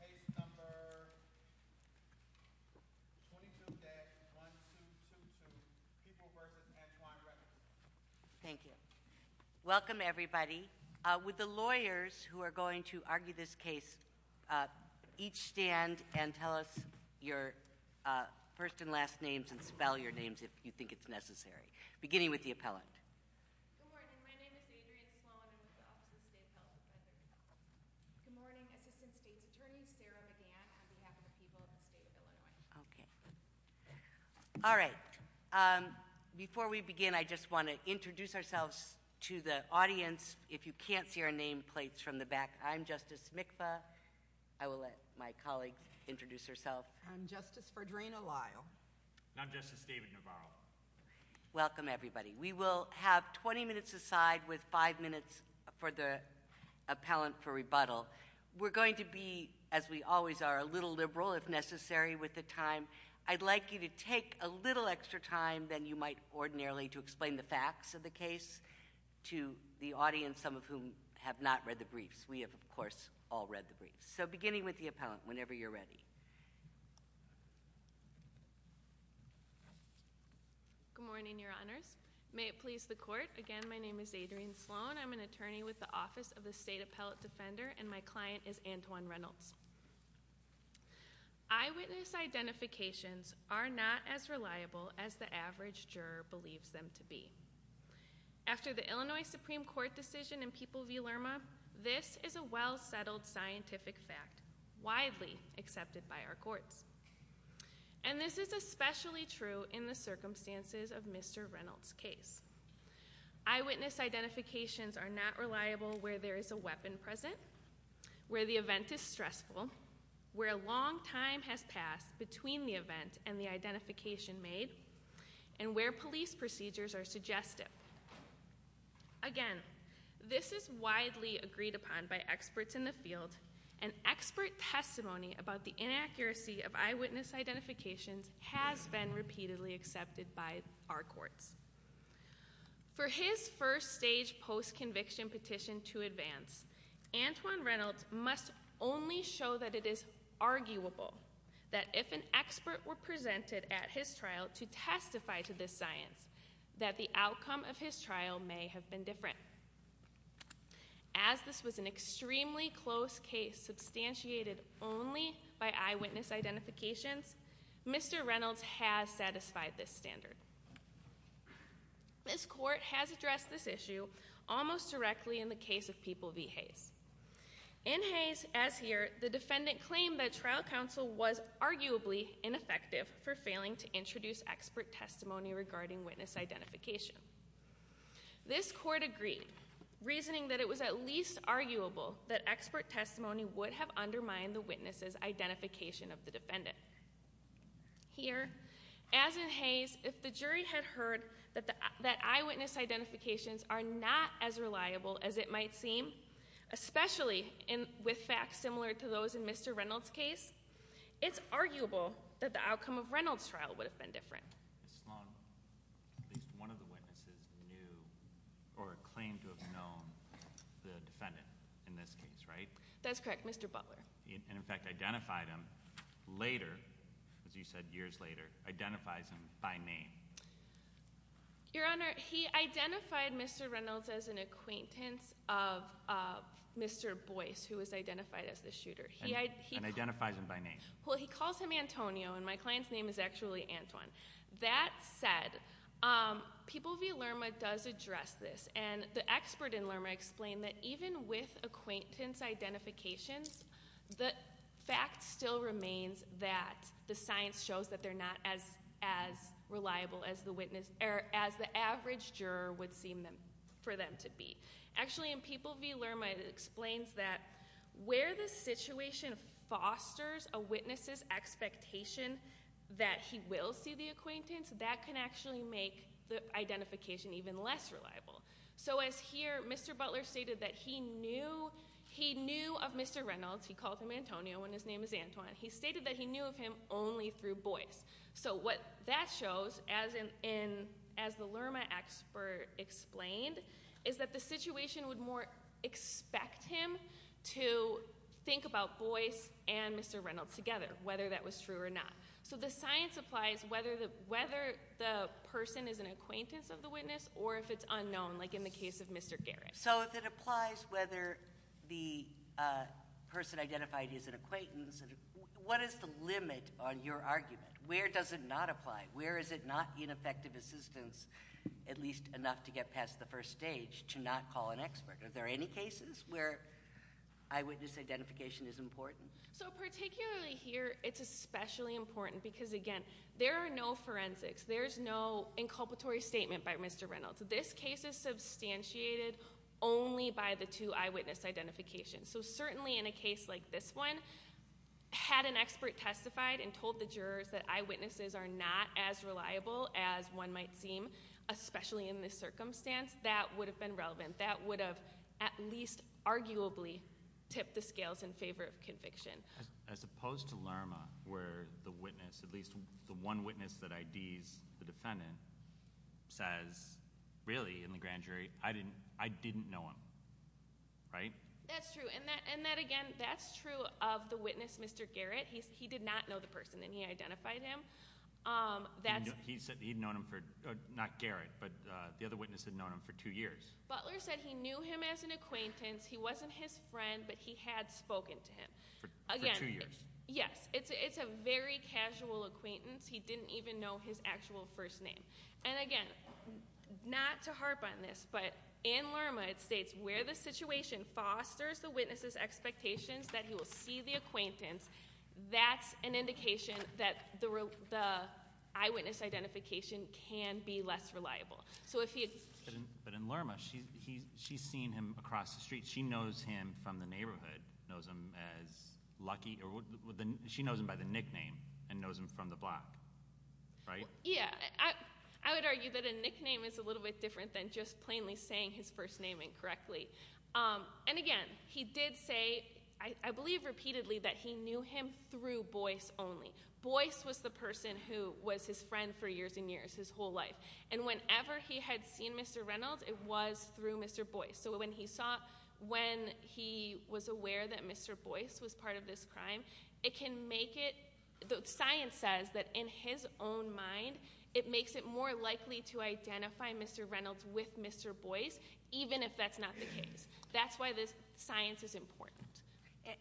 Case number 22-1222, People v. Antoine Reynolds. Thank you. Welcome, everybody. Would the lawyers who are going to argue this case each stand and tell us your first and last names and spell your names if you think it's necessary, beginning with the appellant. Good morning. My name is Adrienne Sloan. I'm with the Office of the State Appellant. Good morning. Assistant State's Attorney Sarah McGann on behalf of the people of the state of Illinois. Okay. All right. Before we begin, I just want to introduce ourselves to the audience. If you can't see our name plates from the back, I'm Justice Mikva. I will let my colleague introduce herself. I'm Justice Fredrina Lyle. And I'm Justice David Navarro. Welcome, everybody. We will have 20 minutes aside with five minutes for the appellant for rebuttal. We're going to be, as we always are, a little liberal if necessary with the time. I'd like you to take a little extra time than you might ordinarily to explain the facts of the case to the audience, some of whom have not read the briefs. We have, of course, all read the briefs. So beginning with the appellant, whenever you're ready. Okay. Good morning, Your Honors. May it please the court. Again, my name is Adrienne Sloan. I'm an attorney with the Office of the State Appellate Defender, and my client is Antoine Reynolds. Eyewitness identifications are not as reliable as the average juror believes them to be. After the Illinois Supreme Court decision in People v. Lerma, this is a well-settled scientific fact, widely accepted by our courts. And this is especially true in the circumstances of Mr. Reynolds' case. Eyewitness identifications are not reliable where there is a weapon present, where the event is stressful, where a long time has passed between the event and the identification made, and where police procedures are suggested. Again, this is widely agreed upon by experts in the field. And expert testimony about the inaccuracy of eyewitness identifications has been repeatedly accepted by our courts. For his first stage post-conviction petition to advance, Antoine Reynolds must only show that it is arguable, that if an expert were presented at his trial to testify to this science, that the outcome of his trial may have been different. As this was an extremely close case substantiated only by eyewitness identifications, Mr. Reynolds has satisfied this standard. This court has addressed this issue almost directly in the case of People v. Hayes. In Hayes, as here, the defendant claimed that trial counsel was arguably ineffective for failing to introduce expert testimony regarding witness identification. This court agreed, reasoning that it was at least arguable that expert testimony would have undermined the witness's identification of the defendant. Here, as in Hayes, if the jury had heard that eyewitness identifications are not as reliable as it might seem, especially with facts similar to those in Mr. Reynolds' case, it's arguable that the outcome of Reynolds' trial would have been different. Ms. Sloan, at least one of the witnesses knew or claimed to have known the defendant in this case, right? That's correct, Mr. Butler. And, in fact, identified him later, as you said, years later, identifies him by name. Your Honor, he identified Mr. Reynolds as an acquaintance of Mr. Boyce, who was identified as the shooter. And identifies him by name? Well, he calls him Antonio, and my client's name is actually Antoine. That said, People v. Lerma does address this. And the expert in Lerma explained that even with acquaintance identifications, the fact still remains that the science shows that they're not as reliable as the average juror would seem for them to be. Actually, in People v. Lerma, it explains that where the situation fosters a witness's expectation that he will see the acquaintance, that can actually make the identification even less reliable. So as here, Mr. Butler stated that he knew of Mr. Reynolds. He called him Antonio, and his name is Antoine. He stated that he knew of him only through Boyce. So what that shows, as the Lerma expert explained, is that the situation would more expect him to think about Boyce and Mr. Reynolds together, whether that was true or not. So the science applies whether the person is an acquaintance of the witness or if it's unknown, like in the case of Mr. Garrett. So if it applies whether the person identified is an acquaintance, what is the limit on your argument? Where does it not apply? Where is it not ineffective assistance, at least enough to get past the first stage, to not call an expert? Are there any cases where eyewitness identification is important? So particularly here, it's especially important because, again, there are no forensics. There's no inculpatory statement by Mr. Reynolds. This case is substantiated only by the two eyewitness identifications. So certainly in a case like this one, had an expert testified and told the jurors that eyewitnesses are not as reliable as one might seem, especially in this circumstance, that would have been relevant. That would have at least arguably tipped the scales in favor of conviction. As opposed to Lerma, where the witness, at least the one witness that IDs the defendant, says, really, in the grand jury, I didn't know him, right? That's true. And that, again, that's true of the witness, Mr. Garrett. He did not know the person, and he identified him. He said he'd known him for, not Garrett, but the other witness had known him for two years. Butler said he knew him as an acquaintance. He wasn't his friend, but he had spoken to him. For two years. Yes. It's a very casual acquaintance. He didn't even know his actual first name. And again, not to harp on this, but in Lerma, it states where the situation fosters the witness's expectations that he will see the acquaintance, that's an indication that the eyewitness identification can be less reliable. But in Lerma, she's seen him across the street. She knows him from the neighborhood, knows him as Lucky. She knows him by the nickname and knows him from the block, right? Yeah. I would argue that a nickname is a little bit different than just plainly saying his first name incorrectly. And again, he did say, I believe repeatedly, that he knew him through Boyce only. Boyce was the person who was his friend for years and years, his whole life. And whenever he had seen Mr. Reynolds, it was through Mr. Boyce. So when he saw, when he was aware that Mr. Boyce was part of this crime, it can make it, science says that in his own mind, it makes it more likely to identify Mr. Reynolds with Mr. Boyce, even if that's not the case. That's why this science is important.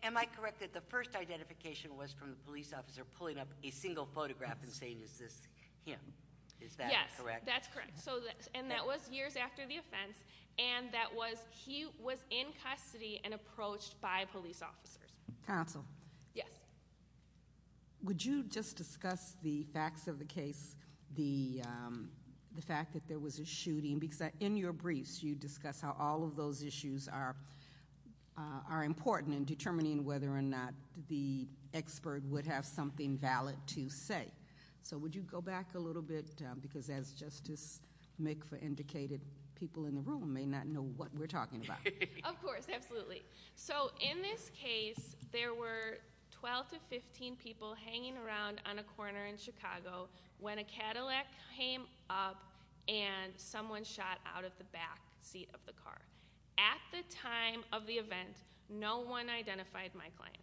Am I correct that the first identification was from the police officer pulling up a single photograph and saying, is this him? Is that correct? Yes, that's correct. And that was years after the offense. And that was, he was in custody and approached by police officers. Counsel? Yes. Would you just discuss the facts of the case, the fact that there was a shooting? Because in your briefs, you discuss how all of those issues are important in determining whether or not the expert would have something valid to say. So would you go back a little bit? Because as Justice McPher indicated, people in the room may not know what we're talking about. Of course, absolutely. So in this case, there were 12 to 15 people hanging around on a corner in Chicago when a Cadillac came up and someone shot out of the back seat of the car. At the time of the event, no one identified my client.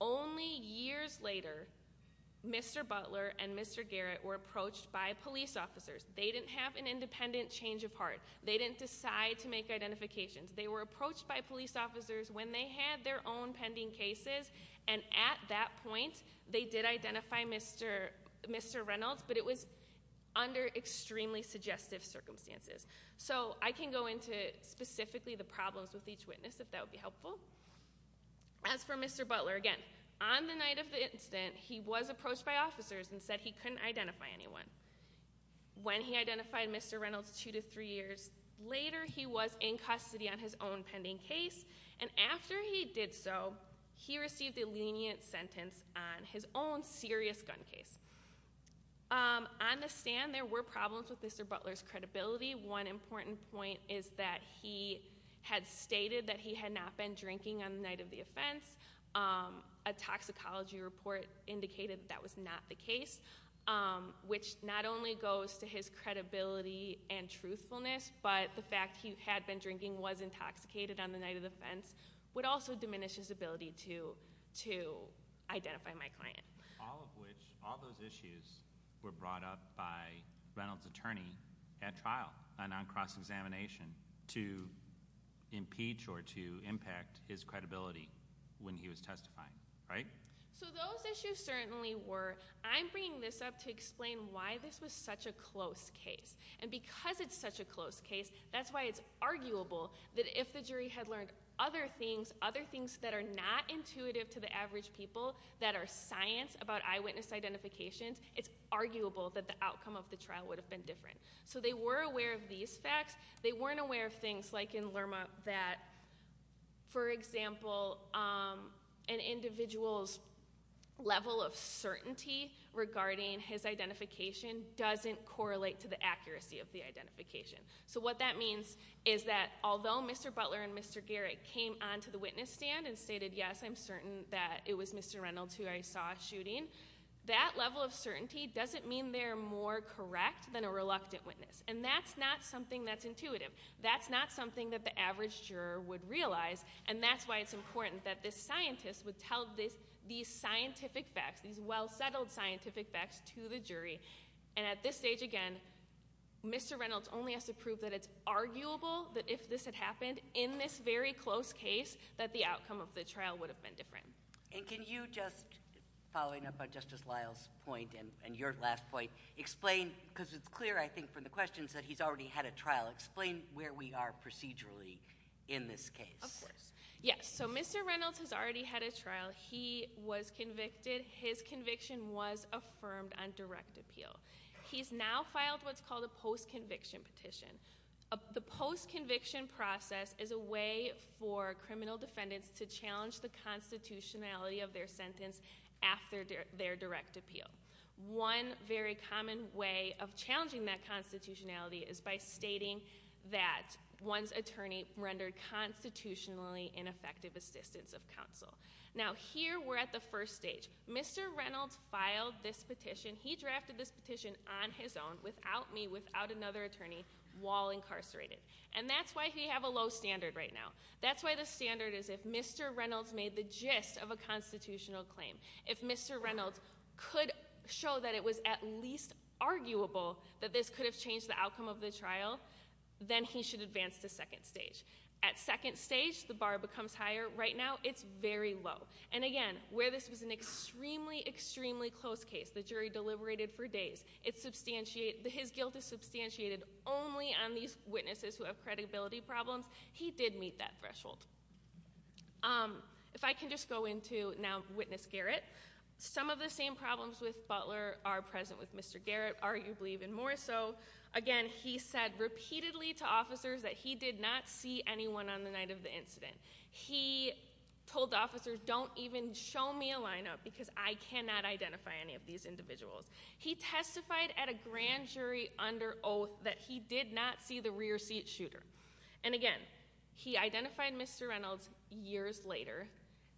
Only years later, Mr. Butler and Mr. Garrett were approached by police officers. They didn't have an independent change of heart. They didn't decide to make identifications. They were approached by police officers when they had their own pending cases. And at that point, they did identify Mr. Reynolds, but it was under extremely suggestive circumstances. So I can go into specifically the problems with each witness, if that would be helpful. As for Mr. Butler, again, on the night of the incident, he was approached by officers and said he couldn't identify anyone. When he identified Mr. Reynolds two to three years later, he was in custody on his own pending case. And after he did so, he received a lenient sentence on his own serious gun case. On the stand, there were problems with Mr. Butler's credibility. One important point is that he had stated that he had not been drinking on the night of the offense. A toxicology report indicated that that was not the case. Which not only goes to his credibility and truthfulness, but the fact he had been drinking, was intoxicated on the night of the offense, would also diminish his ability to identify my client. All of which, all those issues were brought up by Reynolds' attorney at trial, and on cross-examination, to impeach or to impact his credibility when he was testifying, right? So those issues certainly were. I'm bringing this up to explain why this was such a close case. And because it's such a close case, that's why it's arguable that if the jury had learned other things, other things that are not intuitive to the average people, that are science about eyewitness identifications, it's arguable that the outcome of the trial would have been different. So they were aware of these facts. They weren't aware of things like in Lerma that, for example, an individual's level of certainty regarding his identification doesn't correlate to the accuracy of the identification. So what that means is that although Mr. Butler and Mr. Garrett came on to the witness stand and stated yes, I'm certain that it was Mr. Reynolds who I saw shooting. That level of certainty doesn't mean they're more correct than a reluctant witness. And that's not something that's intuitive. That's not something that the average juror would realize. And that's why it's important that this scientist would tell these scientific facts, these well-settled scientific facts to the jury. And at this stage, again, Mr. Reynolds only has to prove that it's arguable that if this had happened in this very close case, that the outcome of the trial would have been different. And can you just, following up on Justice Lyle's point and your last point, explain, because it's clear, I think, from the questions that he's already had a trial, explain where we are procedurally in this case. Of course. Yes. So Mr. Reynolds has already had a trial. He was convicted. His conviction was affirmed on direct appeal. He's now filed what's called a post-conviction petition. The post-conviction process is a way for criminal defendants to challenge the constitutionality of their sentence after their direct appeal. One very common way of challenging that constitutionality is by stating that one's attorney rendered constitutionally ineffective assistance of counsel. Now, here we're at the first stage. Mr. Reynolds filed this petition. He drafted this petition on his own, without me, without another attorney, while incarcerated. And that's why he have a low standard right now. That's why the standard is if Mr. Reynolds made the gist of a constitutional claim, if Mr. Reynolds could show that it was at least arguable that this could have changed the outcome of the trial, then he should advance to second stage. At second stage, the bar becomes higher. Right now, it's very low. And again, where this was an extremely, extremely close case, the jury deliberated for days. His guilt is substantiated only on these witnesses who have credibility problems. He did meet that threshold. If I can just go into now Witness Garrett. Some of the same problems with Butler are present with Mr. Garrett, arguably even more so. Again, he said repeatedly to officers that he did not see anyone on the night of the incident. He told officers, don't even show me a lineup because I cannot identify any of these individuals. He testified at a grand jury under oath that he did not see the rear seat shooter. And again, he identified Mr. Reynolds years later.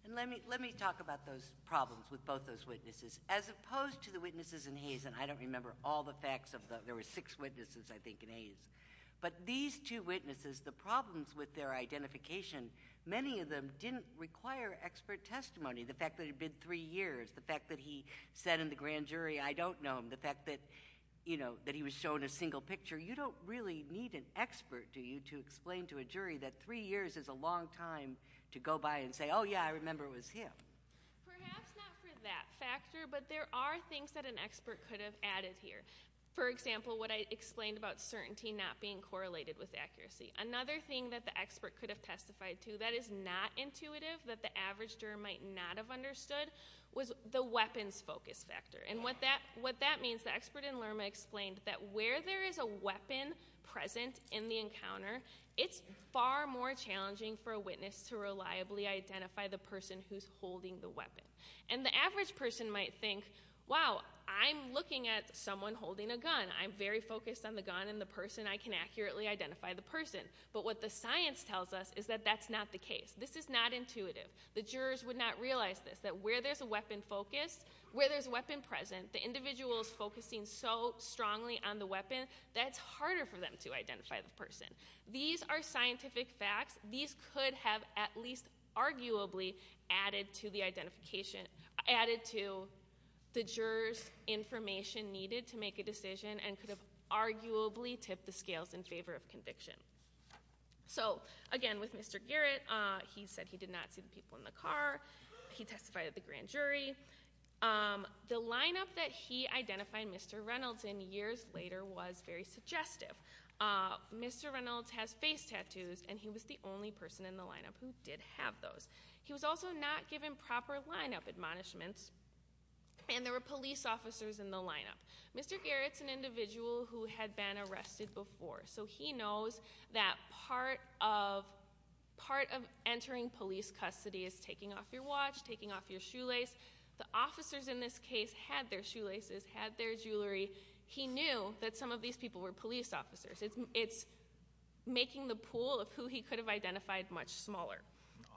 And let me talk about those problems with both those witnesses. As opposed to the witnesses in Hayes, and I don't remember all the facts of the – there were six witnesses, I think, in Hayes. But these two witnesses, the problems with their identification, many of them didn't require expert testimony. The fact that it had been three years, the fact that he said in the grand jury, I don't know him. The fact that, you know, that he was shown a single picture. You don't really need an expert, do you, to explain to a jury that three years is a long time to go by and say, oh, yeah, I remember it was him. Perhaps not for that factor, but there are things that an expert could have added here. For example, what I explained about certainty not being correlated with accuracy. Another thing that the expert could have testified to that is not intuitive, that the average juror might not have understood, was the weapons focus factor. And what that means, the expert in Lerma explained that where there is a weapon present in the encounter, it's far more challenging for a witness to reliably identify the person who's holding the weapon. And the average person might think, wow, I'm looking at someone holding a gun. I'm very focused on the gun and the person. I can accurately identify the person. But what the science tells us is that that's not the case. This is not intuitive. The jurors would not realize this, that where there's a weapon focused, where there's a weapon present, the individual is focusing so strongly on the weapon, that it's harder for them to identify the person. These are scientific facts. These could have at least arguably added to the identification, added to the juror's information needed to make a decision and could have arguably tipped the scales in favor of conviction. So again, with Mr. Garrett, he said he did not see the people in the car. He testified at the grand jury. The lineup that he identified Mr. Reynolds in years later was very suggestive. Mr. Reynolds has face tattoos, and he was the only person in the lineup who did have those. He was also not given proper lineup admonishments, and there were police officers in the lineup. Mr. Garrett's an individual who had been arrested before. So he knows that part of entering police custody is taking off your watch, taking off your shoelace. The officers in this case had their shoelaces, had their jewelry. He knew that some of these people were police officers. It's making the pool of who he could have identified much smaller.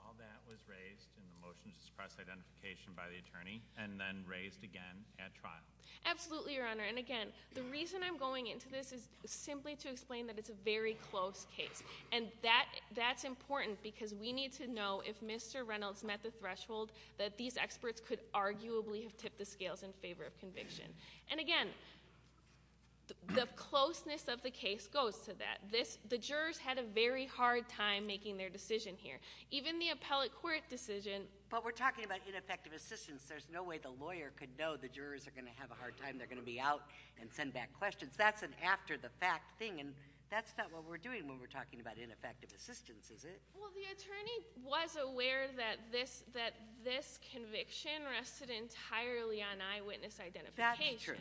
All that was raised in the motion to suppress identification by the attorney, and then raised again at trial. Absolutely, Your Honor. And again, the reason I'm going into this is simply to explain that it's a very close case. And that's important because we need to know if Mr. Reynolds met the threshold that these experts could arguably have tipped the scales in favor of conviction. And again, the closeness of the case goes to that. The jurors had a very hard time making their decision here. Even the appellate court decision- But we're talking about ineffective assistance. There's no way the lawyer could know the jurors are going to have a hard time. They're going to be out and send back questions. That's an after-the-fact thing, and that's not what we're doing when we're talking about ineffective assistance, is it? Well, the attorney was aware that this conviction rested entirely on eyewitness identification. That's true.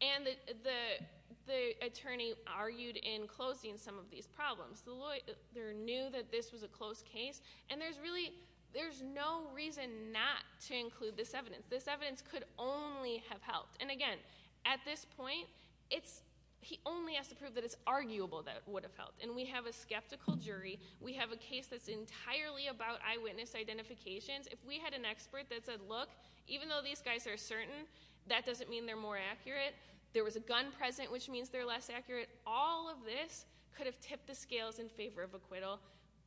And the attorney argued in closing some of these problems. The lawyer knew that this was a close case, and there's no reason not to include this evidence. This evidence could only have helped. And again, at this point, he only has to prove that it's arguable that it would have helped. And we have a skeptical jury. We have a case that's entirely about eyewitness identifications. If we had an expert that said, look, even though these guys are certain, that doesn't mean they're more accurate. There was a gun present, which means they're less accurate. All of this could have tipped the scales in favor of acquittal,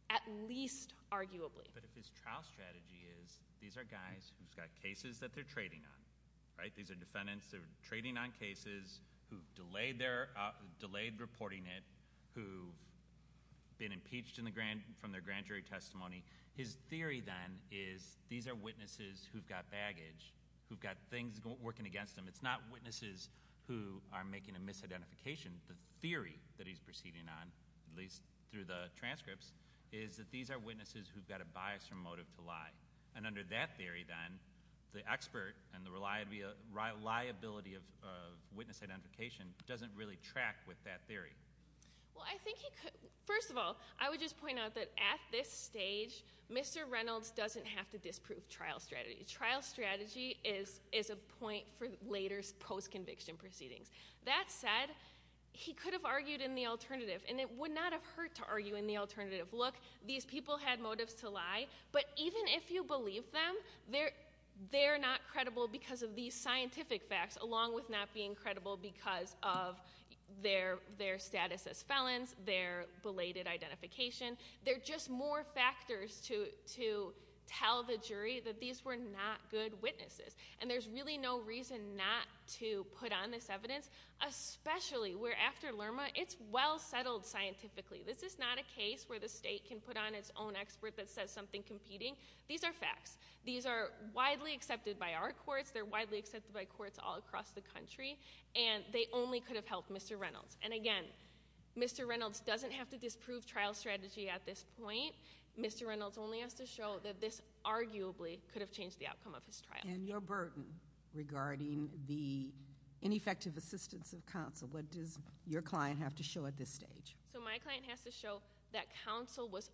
at least arguably. But if his trial strategy is, these are guys who've got cases that they're trading on, right? These are defendants. They're trading on cases, who've delayed reporting it, who've been impeached from their grand jury testimony. His theory, then, is these are witnesses who've got baggage, who've got things working against them. It's not witnesses who are making a misidentification. The theory that he's proceeding on, at least through the transcripts, is that these are witnesses who've got a bias or motive to lie. And under that theory, then, the expert and the reliability of witness identification doesn't really track with that theory. First of all, I would just point out that at this stage, Mr. Reynolds doesn't have to disprove trial strategy. Trial strategy is a point for later post-conviction proceedings. That said, he could have argued in the alternative. And it would not have hurt to argue in the alternative. Look, these people had motives to lie. But even if you believe them, they're not credible because of these scientific facts, along with not being credible because of their status as felons, their belated identification. They're just more factors to tell the jury that these were not good witnesses. And there's really no reason not to put on this evidence, especially where, after Lerma, it's well settled scientifically. This is not a case where the state can put on its own expert that says something competing. These are facts. These are widely accepted by our courts. They're widely accepted by courts all across the country. And they only could have helped Mr. Reynolds. And again, Mr. Reynolds doesn't have to disprove trial strategy at this point. Mr. Reynolds only has to show that this arguably could have changed the outcome of his trial. And your burden regarding the ineffective assistance of counsel, what does your client have to show at this stage? So my client has to show that counsel was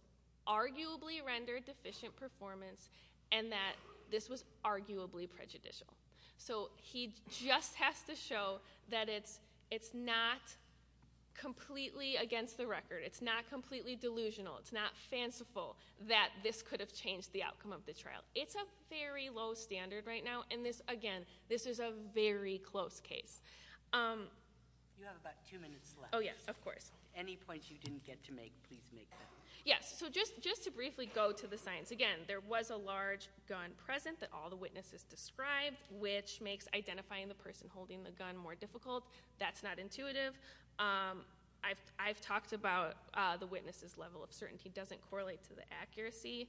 arguably rendered deficient performance and that this was arguably prejudicial. So he just has to show that it's not completely against the record. It's not completely delusional. It's not fanciful that this could have changed the outcome of the trial. It's a very low standard right now. And this, again, this is a very close case. You have about two minutes left. Oh, yes, of course. Any points you didn't get to make, please make them. Yes. So just to briefly go to the science. Again, there was a large gun present that all the witnesses described, which makes identifying the person holding the gun more difficult. That's not intuitive. I've talked about the witness's level of certainty doesn't correlate to the accuracy.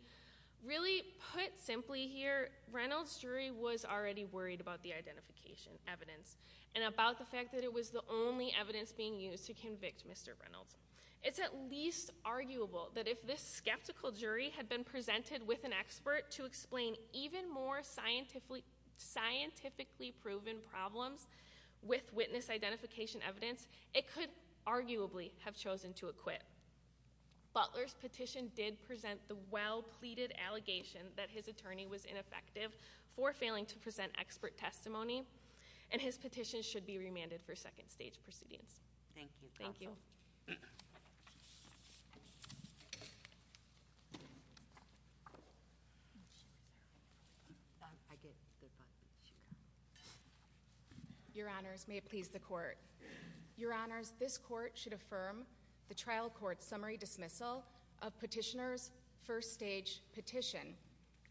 Really put simply here, Reynolds' jury was already worried about the identification evidence and about the fact that it was the only evidence being used to convict Mr. Reynolds. It's at least arguable that if this skeptical jury had been presented with an expert to explain even more scientifically proven problems with witness identification evidence, it could arguably have chosen to acquit. Butler's petition did present the well-pleaded allegation that his attorney was ineffective for failing to present expert testimony. And his petition should be remanded for second stage proceedings. Thank you. Thank you. Your honors, may it please the court. Your honors, this court should affirm the trial court's summary dismissal of petitioner's first stage petition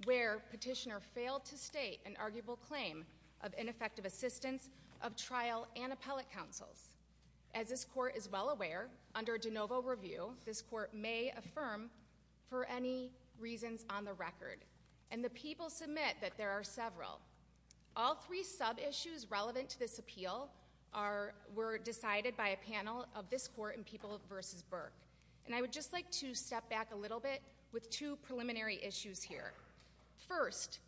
where petitioner failed to state an arguable claim of ineffective assistance of trial and appellate counsels. As this court is well aware, under de novo review, this court may affirm for any reasons on the record. And the people submit that there are several. All three sub-issues relevant to this appeal were decided by a panel of this court in People v. Burke. And I would just like to step back a little bit with two preliminary issues here. First,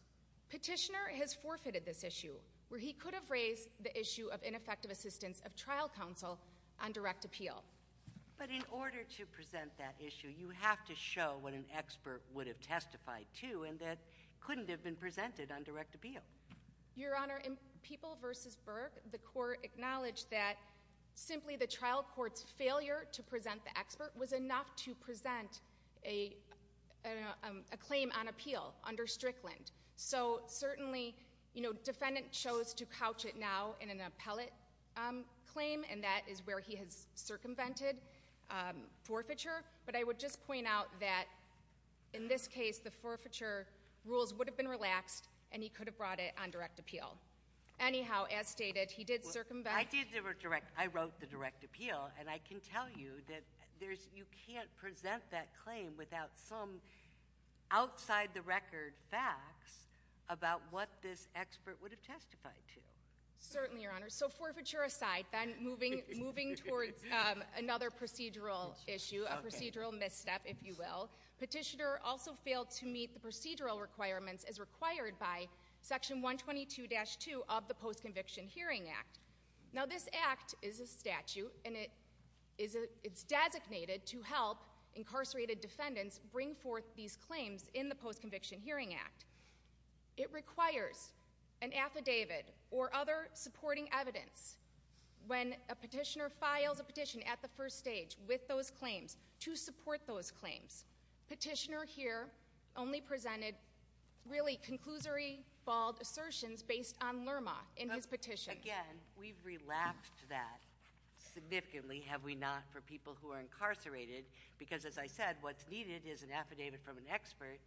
petitioner has forfeited this issue where he could have raised the issue of ineffective assistance of trial counsel on direct appeal. But in order to present that issue, you have to show what an expert would have testified to and that couldn't have been presented on direct appeal. Your honor, in People v. Burke, the court acknowledged that simply the trial court's failure to present the expert was enough to present a claim on appeal under Strickland. So certainly, defendant chose to couch it now in an appellate claim, and that is where he has circumvented forfeiture. But I would just point out that in this case, the forfeiture rules would have been relaxed, and he could have brought it on direct appeal. Anyhow, as stated, he did circumvent- I did the direct, I wrote the direct appeal, and I can tell you that you can't present that claim without some outside the record facts about what this expert would have testified to. Certainly, your honor. So forfeiture aside, then moving towards another procedural issue, a procedural misstep, if you will. Petitioner also failed to meet the procedural requirements as required by section 122-2 of the Post-Conviction Hearing Act. Now this act is a statute, and it's designated to help incarcerated defendants bring forth these claims in the Post-Conviction Hearing Act. It requires an affidavit or other supporting evidence. When a petitioner files a petition at the first stage with those claims to support those claims, petitioner here only presented really conclusory, bald assertions based on Lerma in his petition. Again, we've relaxed that significantly, have we not, for people who are incarcerated. Because as I said, what's needed is an affidavit from an expert,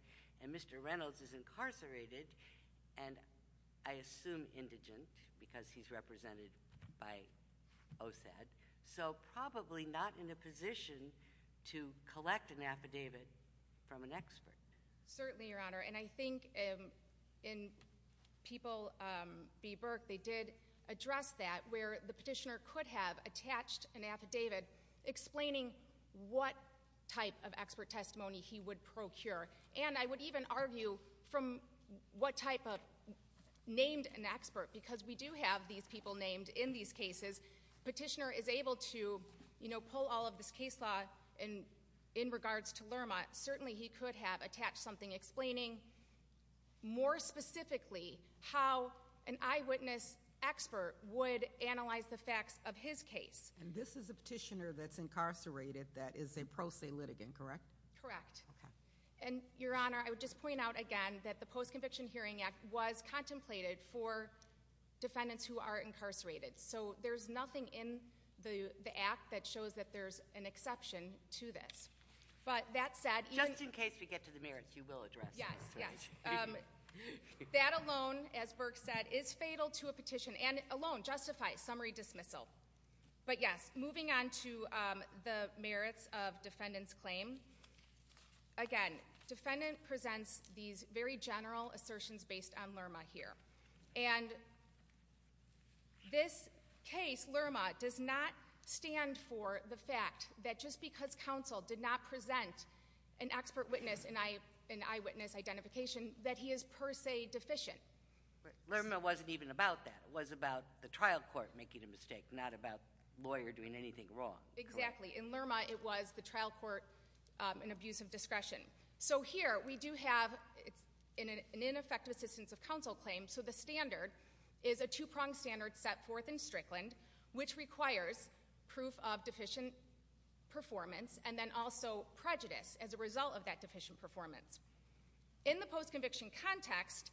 and Mr. Reynolds is incarcerated. And I assume indigent, because he's represented by OSAD. So probably not in a position to collect an affidavit from an expert. Certainly, your honor. And I think in people, B Burke, they did address that, where the petitioner could have attached an affidavit explaining what type of expert testimony he would procure. And I would even argue from what type of named an expert, because we do have these people named in these cases, petitioner is able to pull all of this case law. And in regards to Lerma, certainly he could have attached something explaining more specifically how an eyewitness expert would analyze the facts of his case. And this is a petitioner that's incarcerated that is a pro se litigant, correct? Correct. And your honor, I would just point out again that the Post-Conviction Hearing Act was contemplated for defendants who are incarcerated. So there's nothing in the act that shows that there's an exception to this. But that said- Just in case we get to the merits, you will address this, right? Yes, yes. That alone, as Burke said, is fatal to a petition, and alone justifies summary dismissal. But yes, moving on to the merits of defendant's claim. Again, defendant presents these very general assertions based on Lerma here. And this case, Lerma, does not stand for the fact that just because counsel did not present an expert witness and eyewitness identification, that he is per se deficient. Lerma wasn't even about that. It was about the trial court making a mistake, not about lawyer doing anything wrong. Correct. Exactly. In Lerma, it was the trial court in abuse of discretion. So here, we do have an ineffective assistance of counsel claim. So the standard is a two-pronged standard set forth in Strickland, which requires proof of deficient performance and then also prejudice as a result of that deficient performance. In the post-conviction context,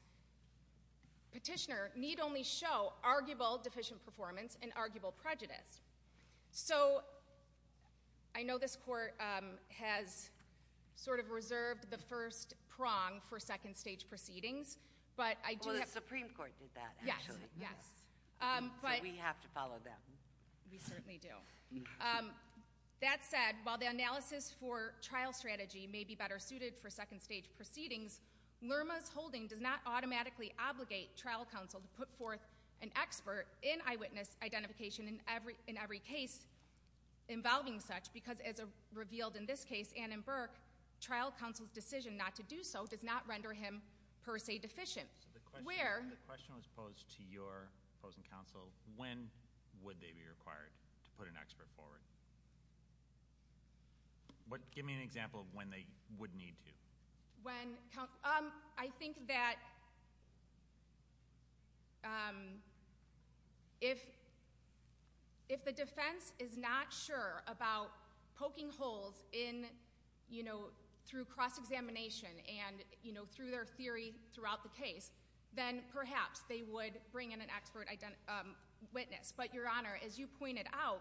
petitioner need only show arguable deficient performance and arguable prejudice. So I know this court has sort of reserved the first prong for second stage proceedings, but I do have- Well, the Supreme Court did that, actually. Yes, yes. So we have to follow that. We certainly do. That said, while the analysis for trial strategy may be better suited for second stage proceedings, Lerma's holding does not automatically obligate trial counsel to put forth an expert in eyewitness identification in every case. Involving such, because as revealed in this case, Ann and Burke, trial counsel's decision not to do so does not render him per se deficient. Where- The question was posed to your opposing counsel, when would they be required to put an expert forward? Give me an example of when they would need to. When, I think that if the defense is not sure about poking holes through cross-examination and then perhaps they would bring in an expert witness. But your honor, as you pointed out,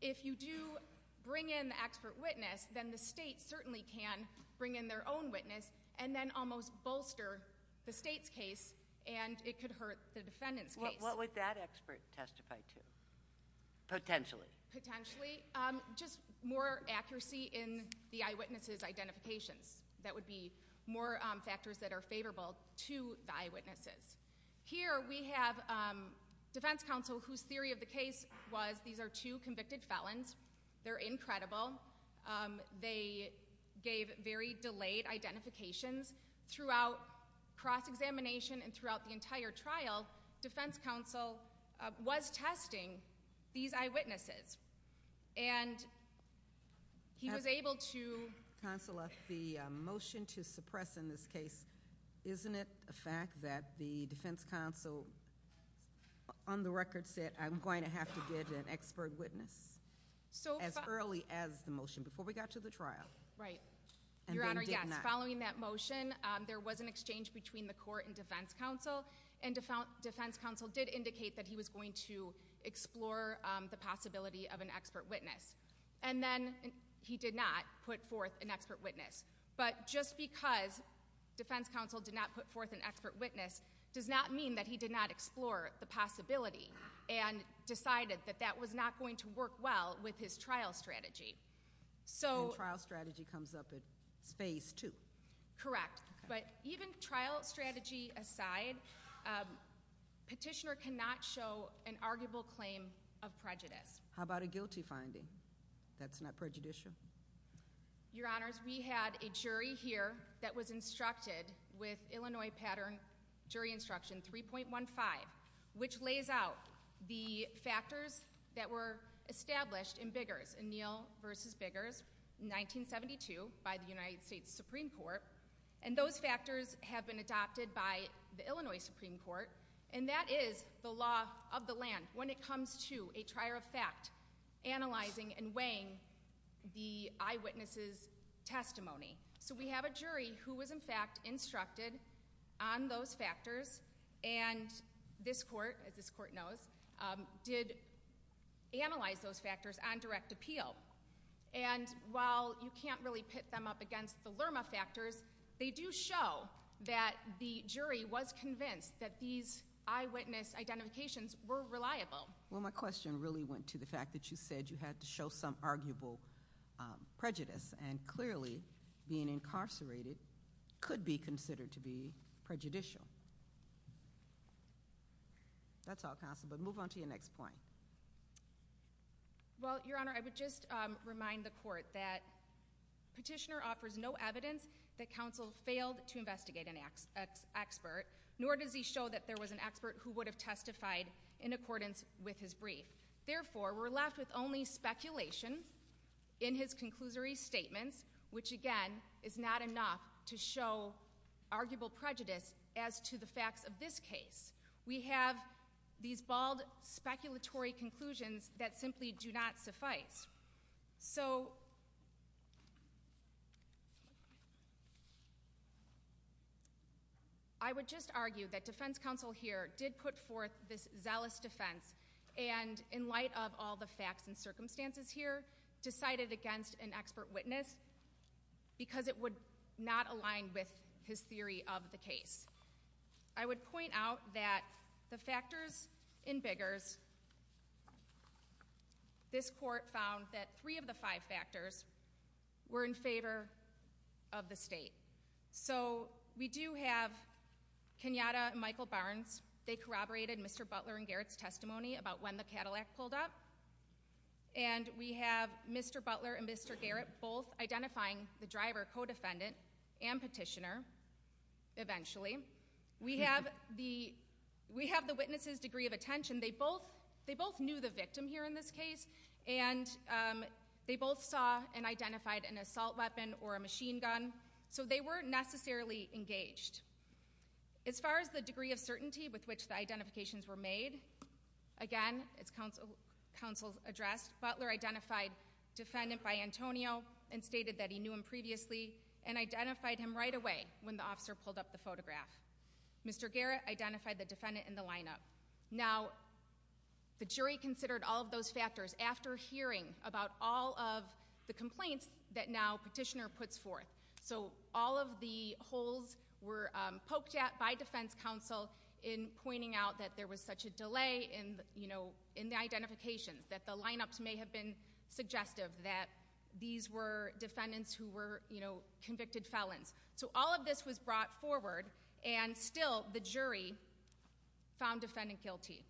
if you do bring in the expert witness, then the state certainly can bring in their own witness and then almost bolster the state's case and it could hurt the defendant's case. What would that expert testify to, potentially? Potentially, just more accuracy in the eyewitnesses' identifications. That would be more factors that are favorable to the eyewitnesses. Here we have defense counsel whose theory of the case was these are two convicted felons. They're incredible. They gave very delayed identifications throughout cross-examination and throughout the entire trial, defense counsel was testing these eyewitnesses. And he was able to- Counselor, the motion to suppress in this case, isn't it a fact that the defense counsel on the record said I'm going to have to get an expert witness as early as the motion, before we got to the trial? Right. Your honor, yes, following that motion, there was an exchange between the court and defense counsel. And defense counsel did indicate that he was going to explore the possibility of an expert witness. And then, he did not put forth an expert witness. But just because defense counsel did not put forth an expert witness, does not mean that he did not explore the possibility and decided that that was not going to work well with his trial strategy. So- And trial strategy comes up at phase two. Correct. But even trial strategy aside, petitioner cannot show an arguable claim of prejudice. How about a guilty finding? That's not prejudicial? Your honors, we had a jury here that was instructed with Illinois Pattern Jury Instruction 3.15, which lays out the factors that were established in Biggers, in Neal versus Biggers, 1972, by the United States Supreme Court. And those factors have been adopted by the Illinois Supreme Court. And that is the law of the land when it comes to a trier of fact, analyzing and weighing the eyewitness's testimony. So we have a jury who was in fact instructed on those factors. And this court, as this court knows, did analyze those factors on direct appeal. And while you can't really pit them up against the Lerma factors, they do show that the jury was convinced that these eyewitness identifications were reliable. Well, my question really went to the fact that you said you had to show some arguable prejudice. And clearly, being incarcerated could be considered to be prejudicial. That's all counsel, but move on to your next point. Well, Your Honor, I would just remind the court that petitioner offers no evidence that counsel failed to investigate an expert. Nor does he show that there was an expert who would have testified in accordance with his brief. Therefore, we're left with only speculation in his conclusory statements, which again, is not enough to show arguable prejudice as to the facts of this case. We have these bald, speculatory conclusions that simply do not suffice. So, I would just argue that defense counsel here did put forth this zealous defense. And in light of all the facts and circumstances here, decided against an expert witness. Because it would not align with his theory of the case. I would point out that the factors in Biggers, this court found that three of the five factors were in favor of the state. So, we do have Kenyatta and Michael Barnes. They corroborated Mr. Butler and Garrett's testimony about when the Cadillac pulled up. And we have Mr. Butler and Mr. Garrett both identifying the driver co-defendant and petitioner. Eventually, we have the witness's degree of attention. They both knew the victim here in this case. And they both saw and identified an assault weapon or a machine gun. So, they weren't necessarily engaged. As far as the degree of certainty with which the identifications were made. Again, as counsel addressed, Butler identified defendant by Antonio and stated that he knew him previously and identified him right away when the officer pulled up the photograph. Mr. Garrett identified the defendant in the lineup. Now, the jury considered all of those factors after hearing about all of the complaints that now petitioner puts forth. So, all of the holes were poked at by defense counsel in pointing out that there was such a delay in the identifications. That the lineups may have been suggestive that these were defendants who were convicted felons. So, all of this was brought forward and still the jury found defendant guilty.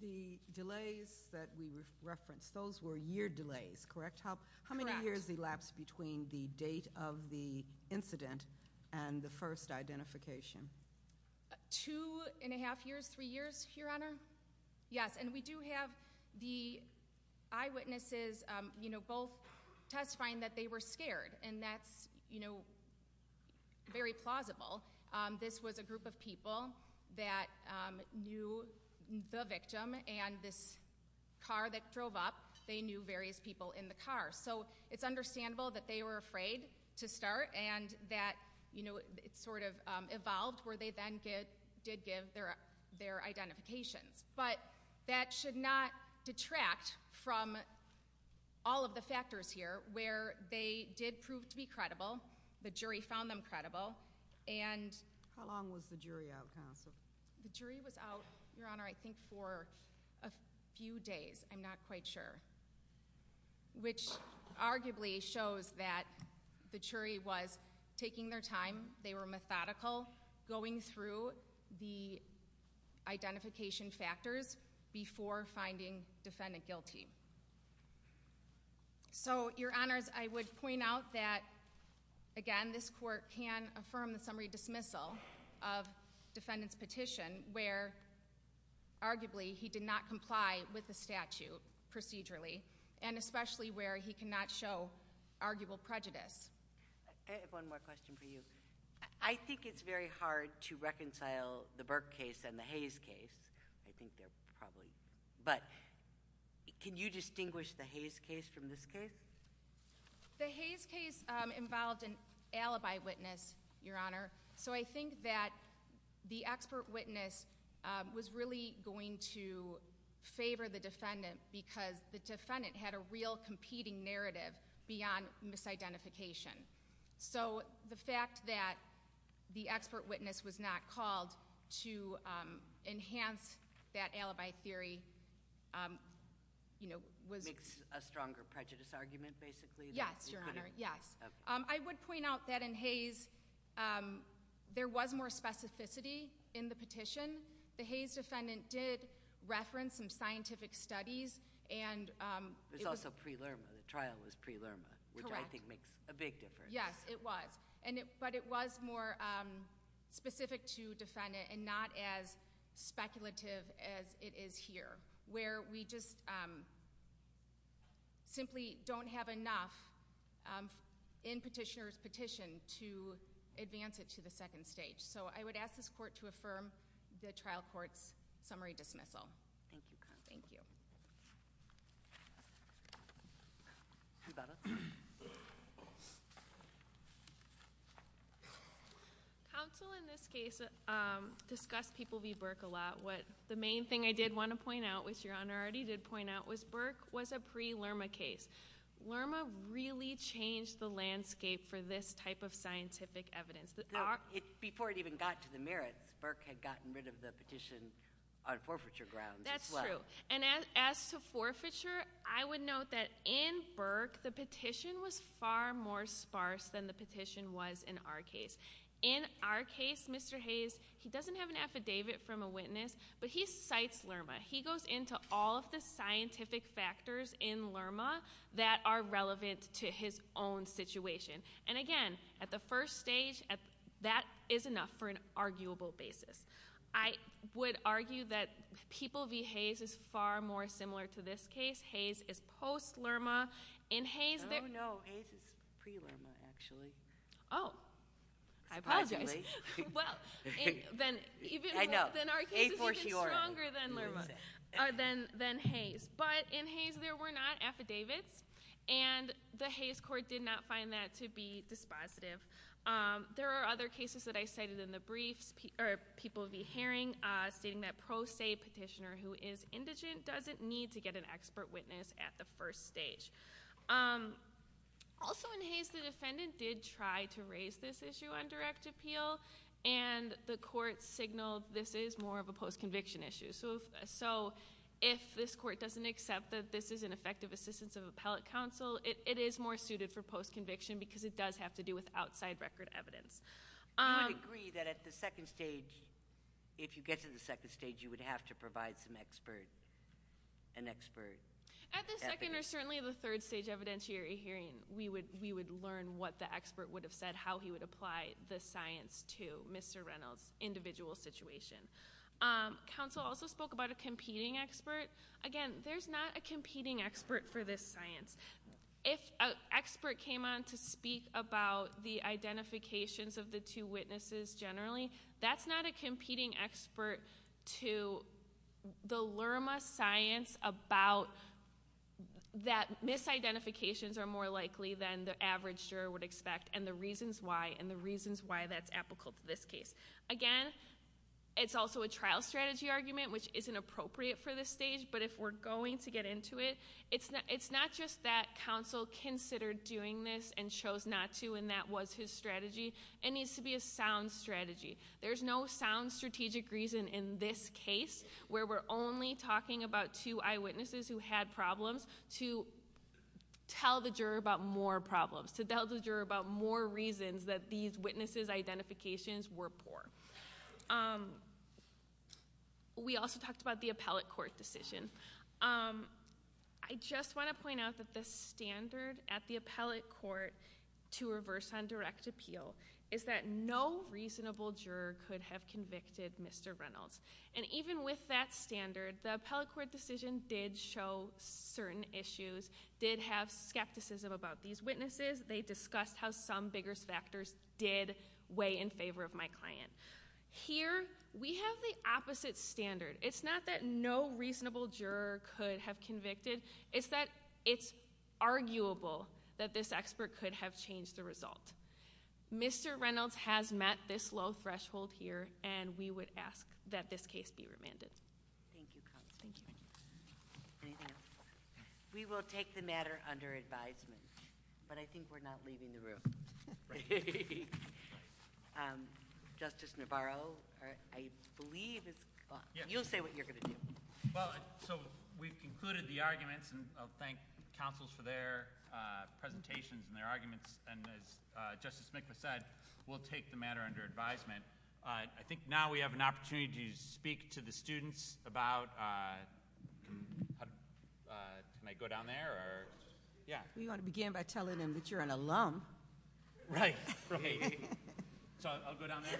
The delays that we referenced, those were year delays, correct? How many years elapsed between the date of the incident and the first identification? Two and a half years, three years, Your Honor? Yes, and we do have the eyewitnesses both testifying that they were scared. And that's very plausible. This was a group of people that knew the victim and this car that drove up, they knew various people in the car. So, it's understandable that they were afraid to start and that it sort of evolved where they then did give their identifications. But that should not detract from all of the factors here where they did prove to be credible. The jury found them credible and- How long was the jury out, counsel? The jury was out, Your Honor, I think for a few days, I'm not quite sure. Which arguably shows that the jury was taking their time. They were methodical, going through the identification factors before finding defendant guilty. So, Your Honors, I would point out that, again, this court can affirm the summary dismissal of defendant's petition, where arguably he did not comply with the statute procedurally, and especially where he cannot show arguable prejudice. I have one more question for you. I think it's very hard to reconcile the Burke case and the Hayes case. I think they're probably, but can you distinguish the Hayes case from this case? The Hayes case involved an alibi witness, Your Honor. So I think that the expert witness was really going to favor the defendant, because the defendant had a real competing narrative beyond misidentification. So the fact that the expert witness was not called to enhance that alibi theory was- Makes a stronger prejudice argument, basically? Yes, Your Honor, yes. I would point out that in Hayes, there was more specificity in the petition. The Hayes defendant did reference some scientific studies and- There's also pre-Lurma, the trial was pre-Lurma, which I think makes a big difference. Yes, it was, but it was more specific to defendant and not as speculative as it is here, where we just simply don't have enough in petitioner's petition to advance it to the second stage. So I would ask this court to affirm the trial court's summary dismissal. Thank you, counsel. Thank you. You got it. Counsel in this case discussed people v Burke a lot. The main thing I did want to point out, which Your Honor already did point out, was Burke was a pre-Lurma case. Lurma really changed the landscape for this type of scientific evidence. Before it even got to the merits, Burke had gotten rid of the petition on forfeiture grounds as well. That's true, and as to forfeiture, I would note that in Burke, the petition was far more sparse than the petition was in our case. In our case, Mr. Hayes, he doesn't have an affidavit from a witness, but he cites Lurma. He goes into all of the scientific factors in Lurma that are relevant to his own situation. And again, at the first stage, that is enough for an arguable basis. I would argue that people v Hayes is far more similar to this case. Hayes is post-Lurma. In Hayes- I don't know, Hayes is pre-Lurma, actually. I apologize. Well, then our case is even stronger than Lurma, than Hayes. But in Hayes, there were not affidavits, and the Hayes court did not find that to be dispositive. There are other cases that I cited in the briefs, or people will be hearing stating that pro se petitioner who is indigent doesn't need to get an expert witness at the first stage. Also in Hayes, the defendant did try to raise this issue on direct appeal, and the court signaled this is more of a post-conviction issue. So if this court doesn't accept that this is an effective assistance of appellate counsel, it is more suited for post-conviction because it does have to do with outside record evidence. I would agree that at the second stage, if you get to the second stage, you would have to provide some expert, an expert. At the second, or certainly the third stage evidentiary hearing, we would learn what the expert would have said, how he would apply the science to Mr. Reynolds' individual situation. Counsel also spoke about a competing expert. Again, there's not a competing expert for this science. If an expert came on to speak about the identifications of the two witnesses generally, that's not a competing expert to the Lerma science about that misidentifications are more likely than the average juror would expect, and the reasons why, and the reasons why that's applicable to this case. Again, it's also a trial strategy argument, which isn't appropriate for this stage, but if we're going to get into it, it's not just that counsel considered doing this and chose not to, and that was his strategy. It needs to be a sound strategy. There's no sound strategic reason in this case, where we're only talking about two eyewitnesses who had problems, to tell the juror about more problems, to tell the juror about more reasons that these witnesses' identifications were poor. We also talked about the appellate court decision. I just want to point out that the standard at the appellate court to reverse on direct appeal, is that no reasonable juror could have convicted Mr. Reynolds. And even with that standard, the appellate court decision did show certain issues, did have skepticism about these witnesses. They discussed how some bigger factors did weigh in favor of my client. Here, we have the opposite standard. It's not that no reasonable juror could have convicted, it's that it's arguable that this expert could have changed the result. Mr. Reynolds has met this low threshold here, and we would ask that this case be remanded. Thank you, counsel. Thank you. We will take the matter under advisement, but I think we're not leaving the room. Justice Navarro, I believe is- You'll say what you're going to do. Well, so we've concluded the arguments, and I'll thank counsels for their presentations and their arguments. And as Justice Smith has said, we'll take the matter under advisement. I think now we have an opportunity to speak to the students about, can I go down there or? Yeah. We want to begin by telling them that you're an alum. Right, right. So I'll go down there.